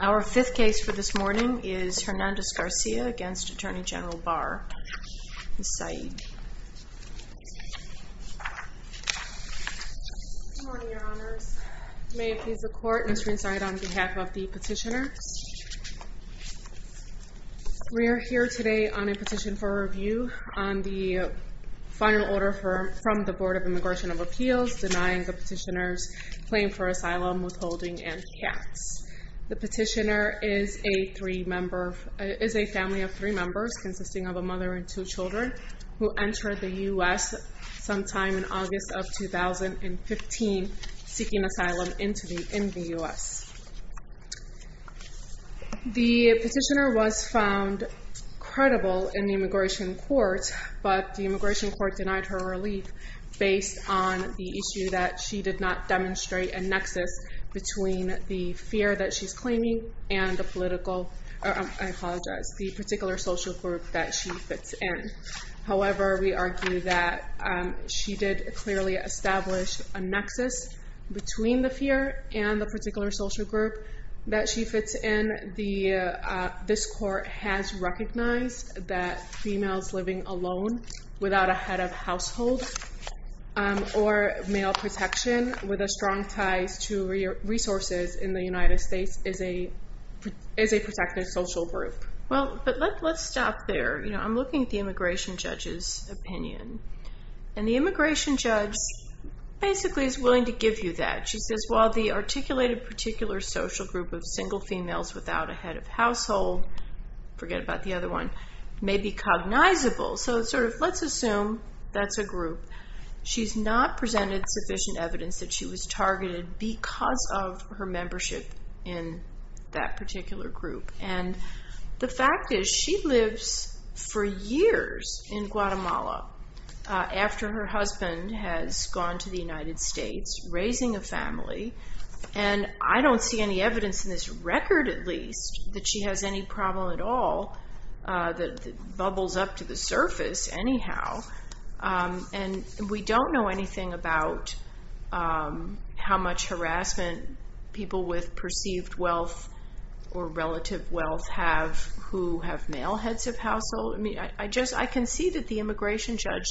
Our fifth case for this morning is Hernandez-Garcia v. Attorney General Barr, Ms. Saeed. Good morning, Your Honors. May it please the Court, Ms. Greenstein, on behalf of the petitioner. We are here today on a petition for review on the final order from the Board of Immigration of Appeals denying the petitioner's claim for asylum, withholding, and caps. The petitioner is a family of three members consisting of a mother and two children who entered the U.S. sometime in August of 2015 seeking asylum in the U.S. The petitioner was found credible in the immigration court, but the immigration court denied her relief based on the issue that she did not demonstrate a nexus between the fear that she's claiming and the particular social group that she fits in. However, we argue that she did clearly establish a nexus between the fear and the particular social group that she fits in. This court has recognized that females living alone without a head of household or male protection with a strong ties to resources in the United States is a protected social group. Let's stop there. I'm looking at the immigration judge's opinion. The immigration judge basically is willing to give you that. She says, while the articulated particular social group of single females without a head of household may be cognizable. Let's assume that's a group. She's not presented sufficient evidence that she was targeted because of her membership in that particular group. The fact is she lives for years in Guatemala after her husband has gone to the United States raising a family. I don't see any evidence in this record, at least, that she has any problem at all that bubbles up to the surface anyhow. We don't know anything about how much harassment people with perceived wealth or relative wealth have who have male heads of household. I can see that the immigration judge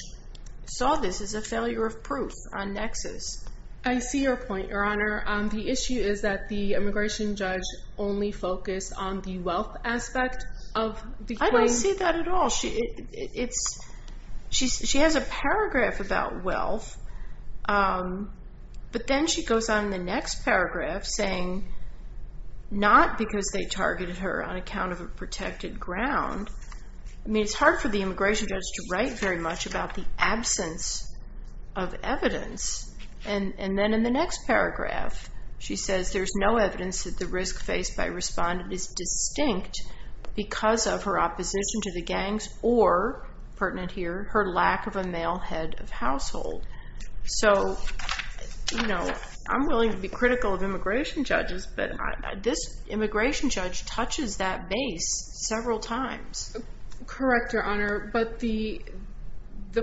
saw this as a failure of proof on nexus. I see your point, Your Honor. The issue is that the immigration judge only focused on the wealth aspect. I don't see that at all. She has a paragraph about wealth, but then she goes on in the next paragraph saying, not because they targeted her on account of a protected ground. It's hard for the immigration judge to write very much about the absence of evidence. Then in the next paragraph, she says there's no evidence that the risk faced by a respondent is distinct because of her opposition to the gangs or, pertinent here, her lack of a male head of household. I'm willing to be critical of immigration judges, but this immigration judge touches that base several times. Correct, Your Honor, but the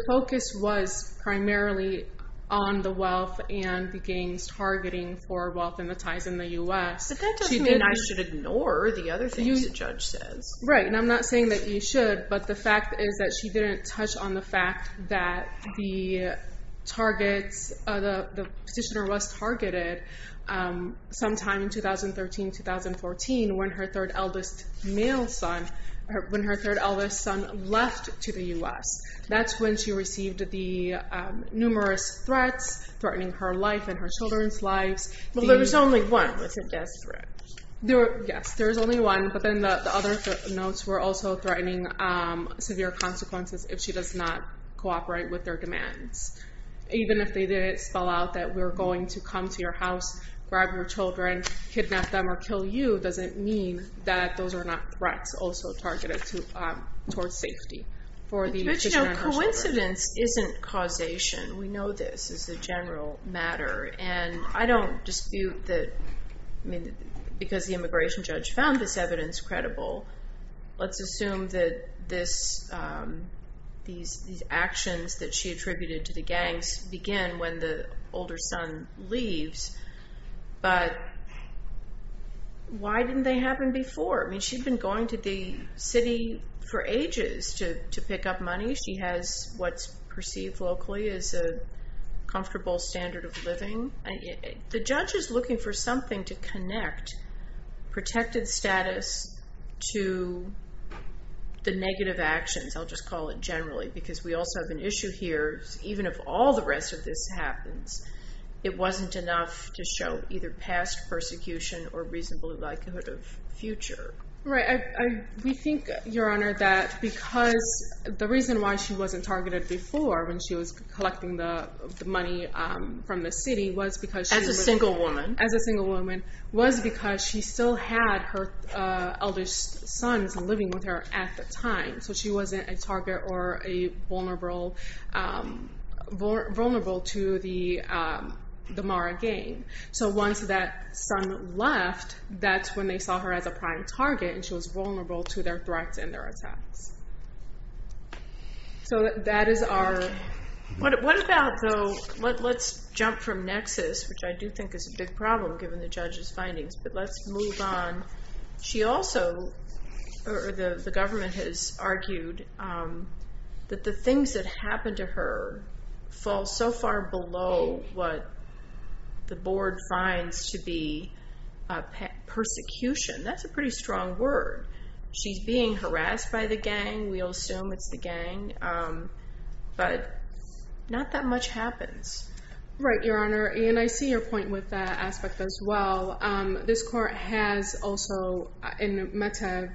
focus was primarily on the wealth and the gangs targeting for wealth and the ties in the U.S. But that doesn't mean I should ignore the other things the judge says. Right, and I'm not saying that you should, but the fact is that she didn't touch on the fact that the petitioner was targeted sometime in 2013-2014 when her third eldest son left to the U.S. That's when she received the numerous threats, threatening her life and her children's lives. Well, there was only one, was it? Yes, there was only one, but then the other notes were also threatening severe consequences if she does not cooperate with their demands. Even if they did spell out that we're going to come to your house, grab your children, kidnap them, or kill you, doesn't mean that those are not threats also targeted towards safety for the petitioner and her children. Coincidence isn't causation. We know this as a general matter, and I don't dispute that because the immigration judge found this evidence credible, let's assume that these actions that she attributed to the gangs begin when the older son leaves. But why didn't they happen before? I mean, she'd been going to the city for ages to pick up money. She has what's perceived locally as a comfortable standard of living. The judge is looking for something to connect protected status to the negative actions, I'll just call it generally, because we also have an issue here. Even if all the rest of this happens, it wasn't enough to show either past persecution or reasonable likelihood of future. We think, Your Honor, that because the reason why she wasn't targeted before when she was collecting the money from the city was because she was a single woman, was because she still had her eldest son living with her at the time. So she wasn't a target or vulnerable to the Mara gang. So once that son left, that's when they saw her as a prime target, and she was vulnerable to their threats and their attacks. So that is our... What about, though, let's jump from nexus, which I do think is a big problem given the judge's findings, but let's move on. She also... The government has argued that the things that happened to her fall so far below what the board finds to be persecution. That's a pretty strong word. She's being harassed by the gang. We'll assume it's the gang, but not that much happens. Right, Your Honor, and I see your point with that aspect as well. This court has also, in Meta,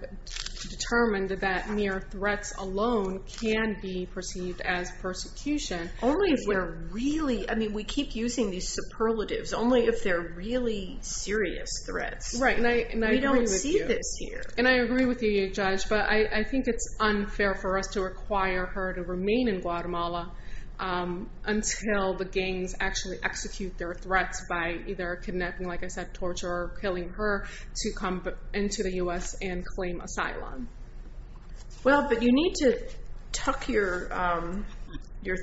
determined that mere threats alone can be perceived as persecution. Only if they're really... I mean, we keep using these superlatives. Only if they're really serious threats. Right, and I agree with you. We don't see this here. And I agree with you, Judge, but I think it's unfair for us to require her to remain in Guatemala until the gangs actually execute their threats by either kidnapping, like I said, torture, or killing her to come into the U.S. and claim asylum. Well, but you need to tuck your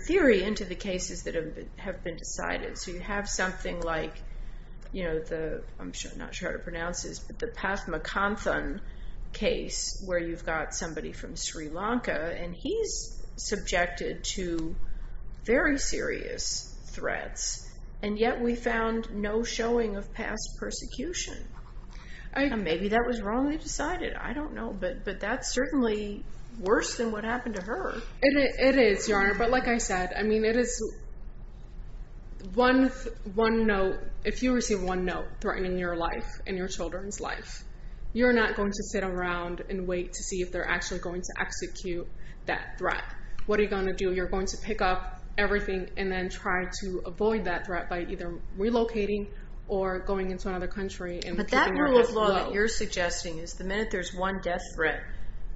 theory into the cases that have been decided. So you have something like, I'm not sure how to pronounce this, but the Paz Macanthan case, where you've got somebody from Sri Lanka, and he's subjected to very serious threats, and yet we found no showing of past persecution. Maybe that was wrongly decided. I don't know, but that's certainly worse than what happened to her. It is, Your Honor, but like I said, I mean, it is one note. If you receive one note threatening your life and your children's life, you're not going to sit around and wait to see if they're actually going to execute that threat. What are you going to do? You're going to pick up everything and then try to avoid that threat by either relocating or going into another country and picking up that note. The kind of law that you're suggesting is the minute there's one death threat,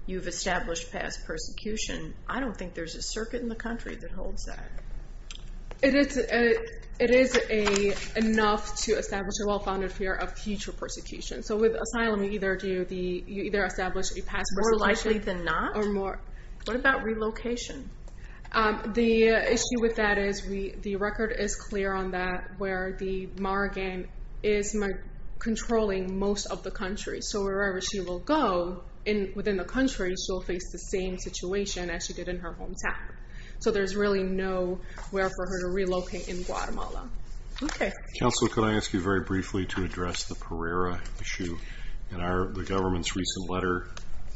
you've established past persecution. I don't think there's a circuit in the country that holds that. It is enough to establish a well-founded fear of future persecution. So with asylum, you either establish a past persecution. More likely than not? What about relocation? The issue with that is the record is clear on that where the morrigan is controlling most of the country. So wherever she will go within the country, she'll face the same situation as she did in her hometown. So there's really no where for her to relocate in Guatemala. Okay. Counselor, could I ask you very briefly to address the Pereira issue? In the government's recent letter,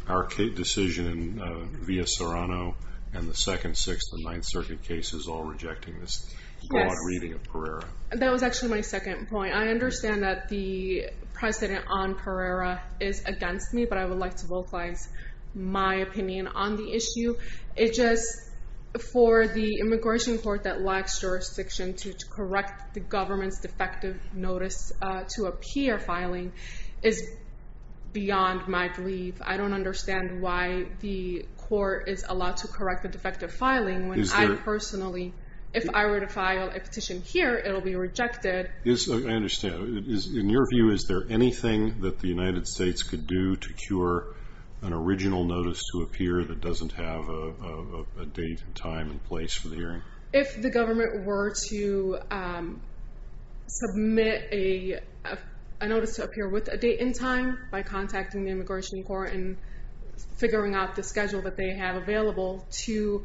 our decision via Serrano and the second, sixth, and ninth circuit cases all rejecting this broad reading of Pereira. That was actually my second point. I understand that the precedent on Pereira is against me, but I would like to vocalize my opinion on the issue. It's just for the immigration court that lacks jurisdiction to correct the government's defective notice to appear filing is beyond my belief. I don't understand why the court is allowed to correct the defective filing when I personally, if I were to file a petition here, it will be rejected. I understand. In your view, is there anything that the United States could do to cure an original notice to appear that doesn't have a date and time and place for the hearing? If the government were to submit a notice to appear with a date and time by contacting the immigration court and figuring out the schedule that they have available to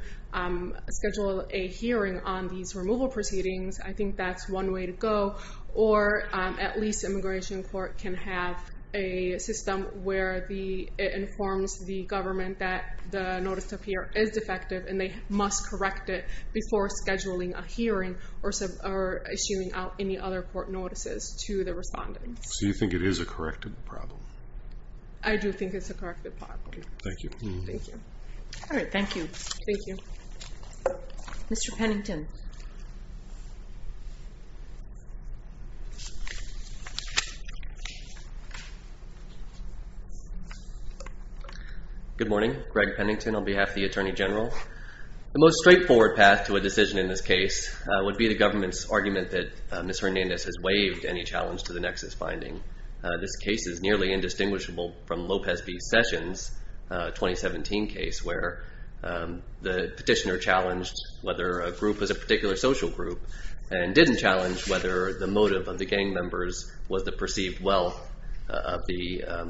schedule a hearing on these removal proceedings, I think that's one way to go, or at least immigration court can have a system where it informs the government that the notice to appear is defective, and they must correct it before scheduling a hearing or issuing out any other court notices to the respondents. So you think it is a correctable problem? I do think it's a correctable problem. Thank you. All right, thank you. Thank you. Mr. Pennington. Good morning. Greg Pennington on behalf of the Attorney General. The most straightforward path to a decision in this case would be the government's argument that Ms. Hernandez has waived any challenge to the nexus finding. This case is nearly indistinguishable from Lopez v. Sessions' 2017 case where the petitioner challenged whether a group was a particular social group and didn't challenge whether the motive of the gang members was the perceived wealth of the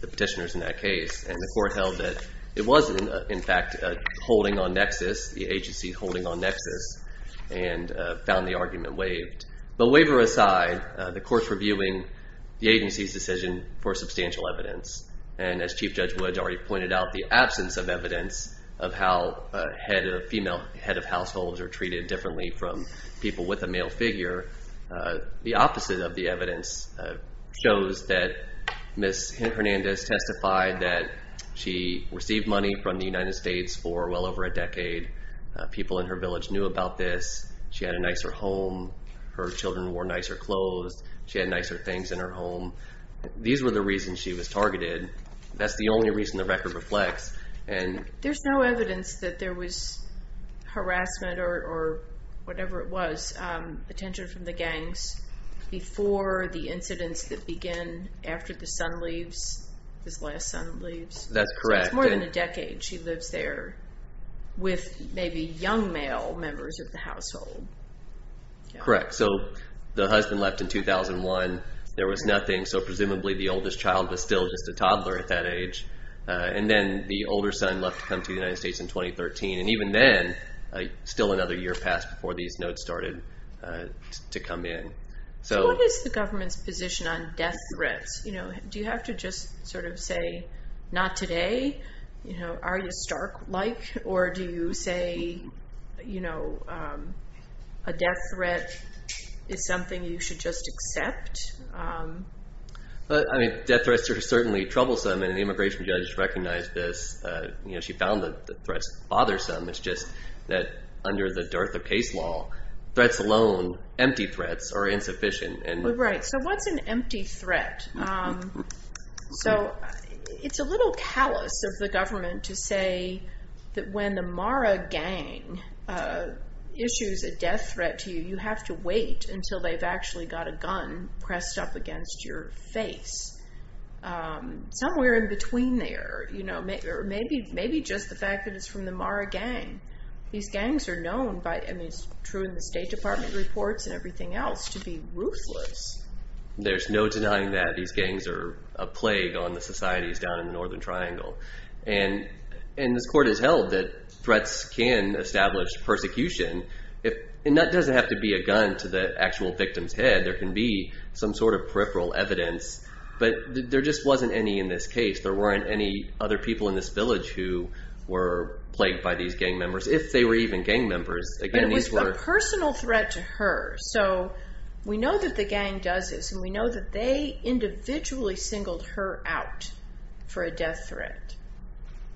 petitioners in that case. And the court held that it wasn't, in fact, holding on nexus, the agency holding on nexus, and found the argument waived. But waiver aside, the court's reviewing the agency's decision for substantial evidence. And as Chief Judge Woods already pointed out, the absence of evidence of how a female head of households are treated differently from people with a male figure, the opposite of the evidence shows that Ms. Hernandez testified that she received money from the United States for well over a decade. People in her village knew about this. She had a nicer home. Her children wore nicer clothes. She had nicer things in her home. These were the reasons she was targeted. That's the only reason the record reflects. There's no evidence that there was harassment or whatever it was, attention from the gangs, before the incidents that begin after the son leaves, his last son leaves. That's correct. That's more than a decade she lives there with maybe young male members of the household. Correct. So the husband left in 2001. There was nothing, so presumably the oldest child was still just a toddler at that age. And then the older son left to come to the United States in 2013. And even then, still another year passed before these notes started to come in. What is the government's position on death threats? Do you have to just sort of say, not today? Are you stark like? Or do you say a death threat is something you should just accept? Death threats are certainly troublesome, and the immigration judge recognized this. She found the threats bothersome. It's just that under the Dartha case law, threats alone, empty threats, are insufficient. Right. So what's an empty threat? So it's a little callous of the government to say that when the Mara gang issues a death threat to you, you have to wait until they've actually got a gun pressed up against your face. Somewhere in between there, maybe just the fact that it's from the Mara gang. These gangs are known by, and it's true in the State Department reports and everything else, to be ruthless. There's no denying that. These gangs are a plague on the societies down in the Northern Triangle. And this court has held that threats can establish persecution. And that doesn't have to be a gun to the actual victim's head. There can be some sort of peripheral evidence. But there just wasn't any in this case. There weren't any other people in this village who were plagued by these gang members, if they were even gang members. It was a personal threat to her. So we know that the gang does this, and we know that they individually singled her out for a death threat.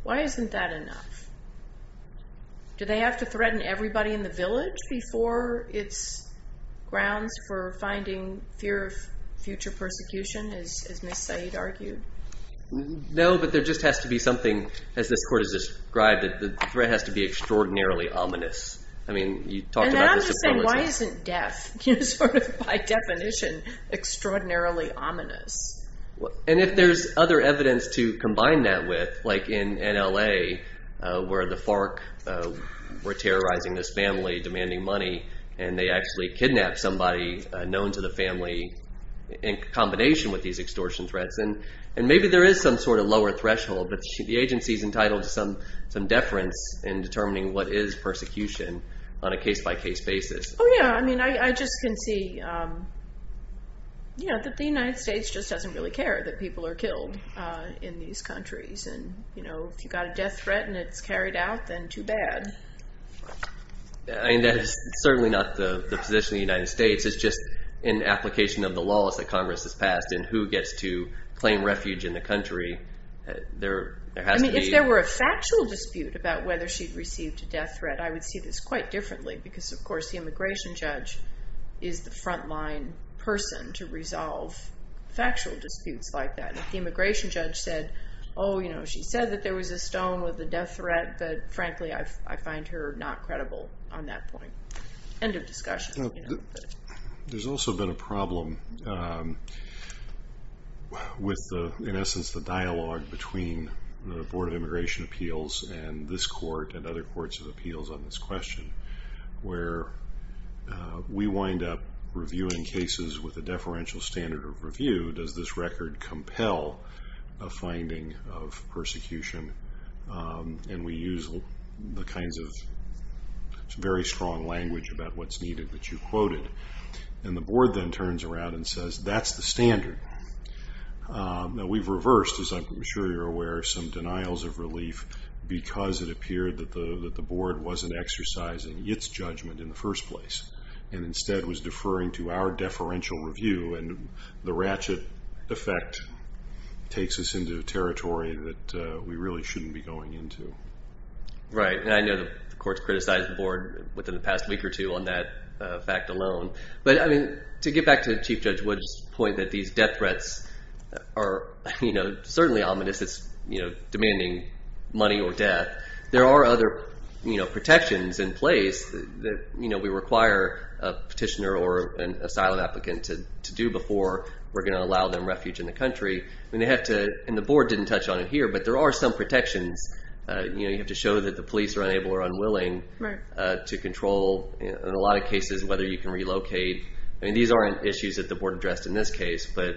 Why isn't that enough? Do they have to threaten everybody in the village before it's grounds for finding fear of future persecution, as Ms. Said argued? No, but there just has to be something, as this court has described, that the threat has to be extraordinarily ominous. I mean, you talked about this a couple of times. And then I'm just saying, why isn't death, sort of by definition, extraordinarily ominous? And if there's other evidence to combine that with, like in L.A., where the FARC were terrorizing this family, demanding money, and they actually kidnapped somebody known to the family in combination with these extortion threats, then maybe there is some sort of lower threshold. But the agency's entitled to some deference in determining what is persecution on a case-by-case basis. Oh, yeah. I mean, I just can see that the United States just doesn't really care that people are killed in these countries. And if you've got a death threat and it's carried out, then too bad. I mean, that is certainly not the position of the United States. It's just an application of the laws that Congress has passed and who gets to claim refuge in the country. I mean, if there were a factual dispute about whether she'd received a death threat, I would see this quite differently, because, of course, the immigration judge is the front-line person to resolve factual disputes like that. If the immigration judge said, oh, you know, she said that there was a stone with a death threat, but, frankly, I find her not credible on that point. End of discussion. There's also been a problem with, in essence, the dialogue between the Board of Immigration Appeals and this court and other courts' appeals on this question, where we wind up reviewing cases with a deferential standard of review. And we use the kinds of very strong language about what's needed that you quoted. And the board then turns around and says, that's the standard. Now, we've reversed, as I'm sure you're aware, some denials of relief, because it appeared that the board wasn't exercising its judgment in the first place and instead was deferring to our deferential review. And the ratchet effect takes us into territory that we really shouldn't be going into. Right. And I know the courts criticized the board within the past week or two on that fact alone. But, I mean, to get back to Chief Judge Wood's point that these death threats are certainly ominous. It's demanding money or death. There are other protections in place that we require a petitioner or an asylum applicant to do before we're going to allow them refuge in the country. And the board didn't touch on it here, but there are some protections. You have to show that the police are unable or unwilling to control, in a lot of cases, whether you can relocate. I mean, these aren't issues that the board addressed in this case. But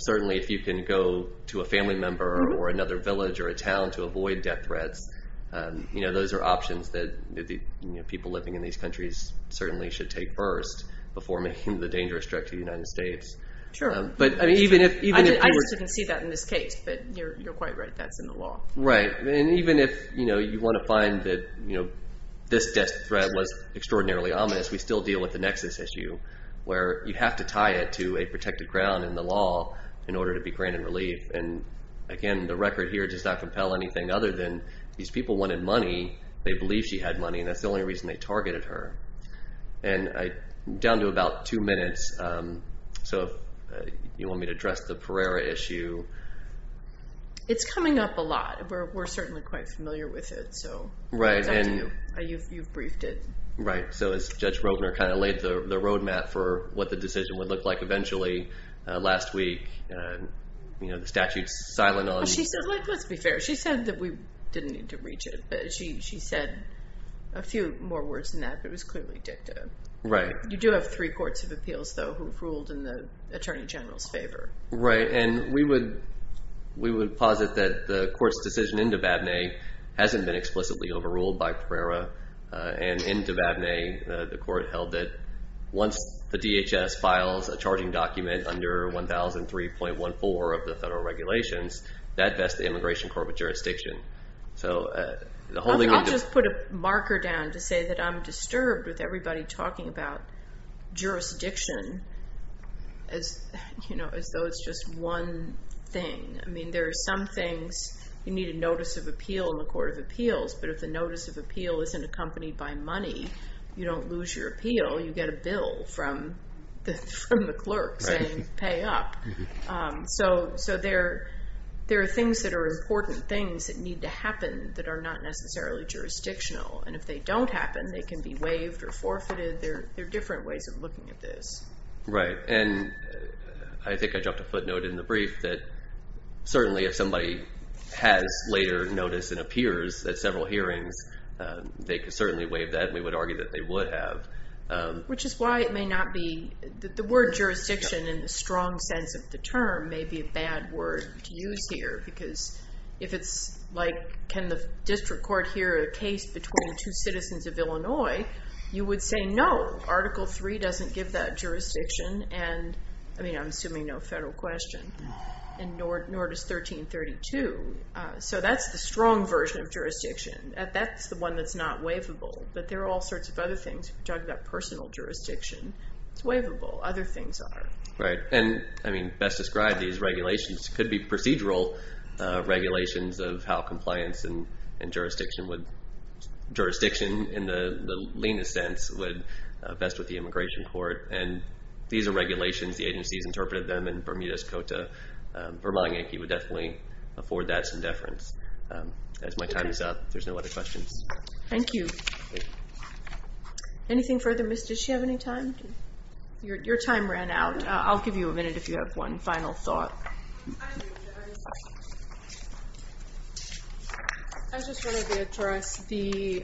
certainly if you can go to a family member or another village or a town to avoid death threats, those are options that people living in these countries certainly should take first before making the dangerous trek to the United States. Sure. I just didn't see that in this case, but you're quite right. That's in the law. Right. And even if you want to find that this death threat was extraordinarily ominous, we still deal with the nexus issue where you have to tie it to a protected ground in the law in order to be granted relief. And again, the record here does not compel anything other than these people wanted money. They believed she had money, and that's the only reason they targeted her. And down to about two minutes, so if you want me to address the Pereira issue. It's coming up a lot. We're certainly quite familiar with it. Right. You've briefed it. Right. So as Judge Roedner kind of laid the road map for what the decision would look like eventually, last week the statute's silent on it. Let's be fair. She said that we didn't need to reach it. She said a few more words than that, but it was clearly dicta. Right. You do have three courts of appeals, though, who've ruled in the Attorney General's favor. Right. And we would posit that the court's decision into Vabne hasn't been explicitly overruled by Pereira and into Vabne the court held that once the DHS files a charging document under 1003.14 of the federal regulations, that vests the Immigration Court of Jurisdiction. I'll just put a marker down to say that I'm disturbed with everybody talking about jurisdiction as though it's just one thing. I mean, there are some things you need a notice of appeal in the court of appeals, but if the notice of appeal isn't accompanied by money, you don't lose your appeal. You get a bill from the clerk saying pay up. So there are things that are important things that need to happen that are not necessarily jurisdictional. And if they don't happen, they can be waived or forfeited. There are different ways of looking at this. Right. And I think I dropped a footnote in the brief that certainly if somebody has later notice and appears at several hearings, they could certainly waive that. We would argue that they would have. Which is why it may not be the word jurisdiction in the strong sense of the term may be a bad word to use here, because if it's like can the district court hear a case between two citizens of Illinois, you would say no. Article III doesn't give that jurisdiction and, I mean, I'm assuming no federal question, and nor does 1332. So that's the strong version of jurisdiction. That's the one that's not waivable. But there are all sorts of other things. We're talking about personal jurisdiction. It's waivable. Other things are. Right. And, I mean, best described, these regulations could be procedural regulations of how compliance and jurisdiction in the leanest sense would vest with the immigration court. And these are regulations. The agencies interpreted them in Bermuda's Cota. Bermuda Yankee would definitely afford that some deference. As my time is up, there's no other questions. Thank you. Anything further, Miss? Did she have any time? Your time ran out. I'll give you a minute if you have one final thought. I just wanted to address the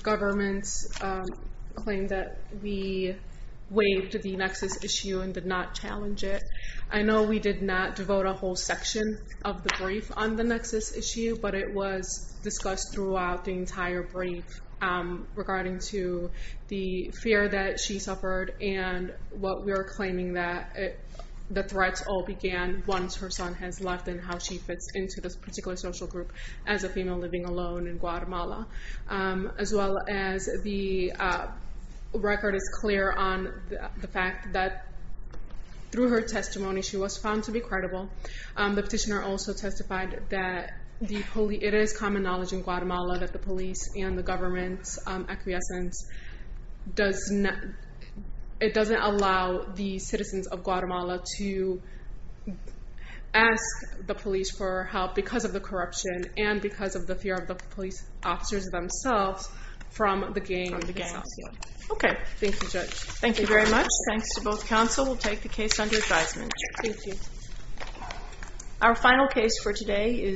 government's claim that we waived the nexus issue and did not challenge it. I know we did not devote a whole section of the brief on the nexus issue, but it was discussed throughout the entire brief regarding to the fear that she suffered and what we are claiming that the threats all began once her son has left and how she fits into this particular social group as a female living alone in Guatemala. As well as the record is clear on the fact that through her testimony, she was found to be credible. The petitioner also testified that it is common knowledge in Guatemala that the police and the government's acquiescence doesn't allow the citizens of Guatemala to ask the police for help because of the corruption and because of the fear of the police officers themselves from the gangs. Okay. Thank you, Judge. Thank you very much. Thanks to both counsel. We'll take the case under advisement. Thank you. Our final case for today is…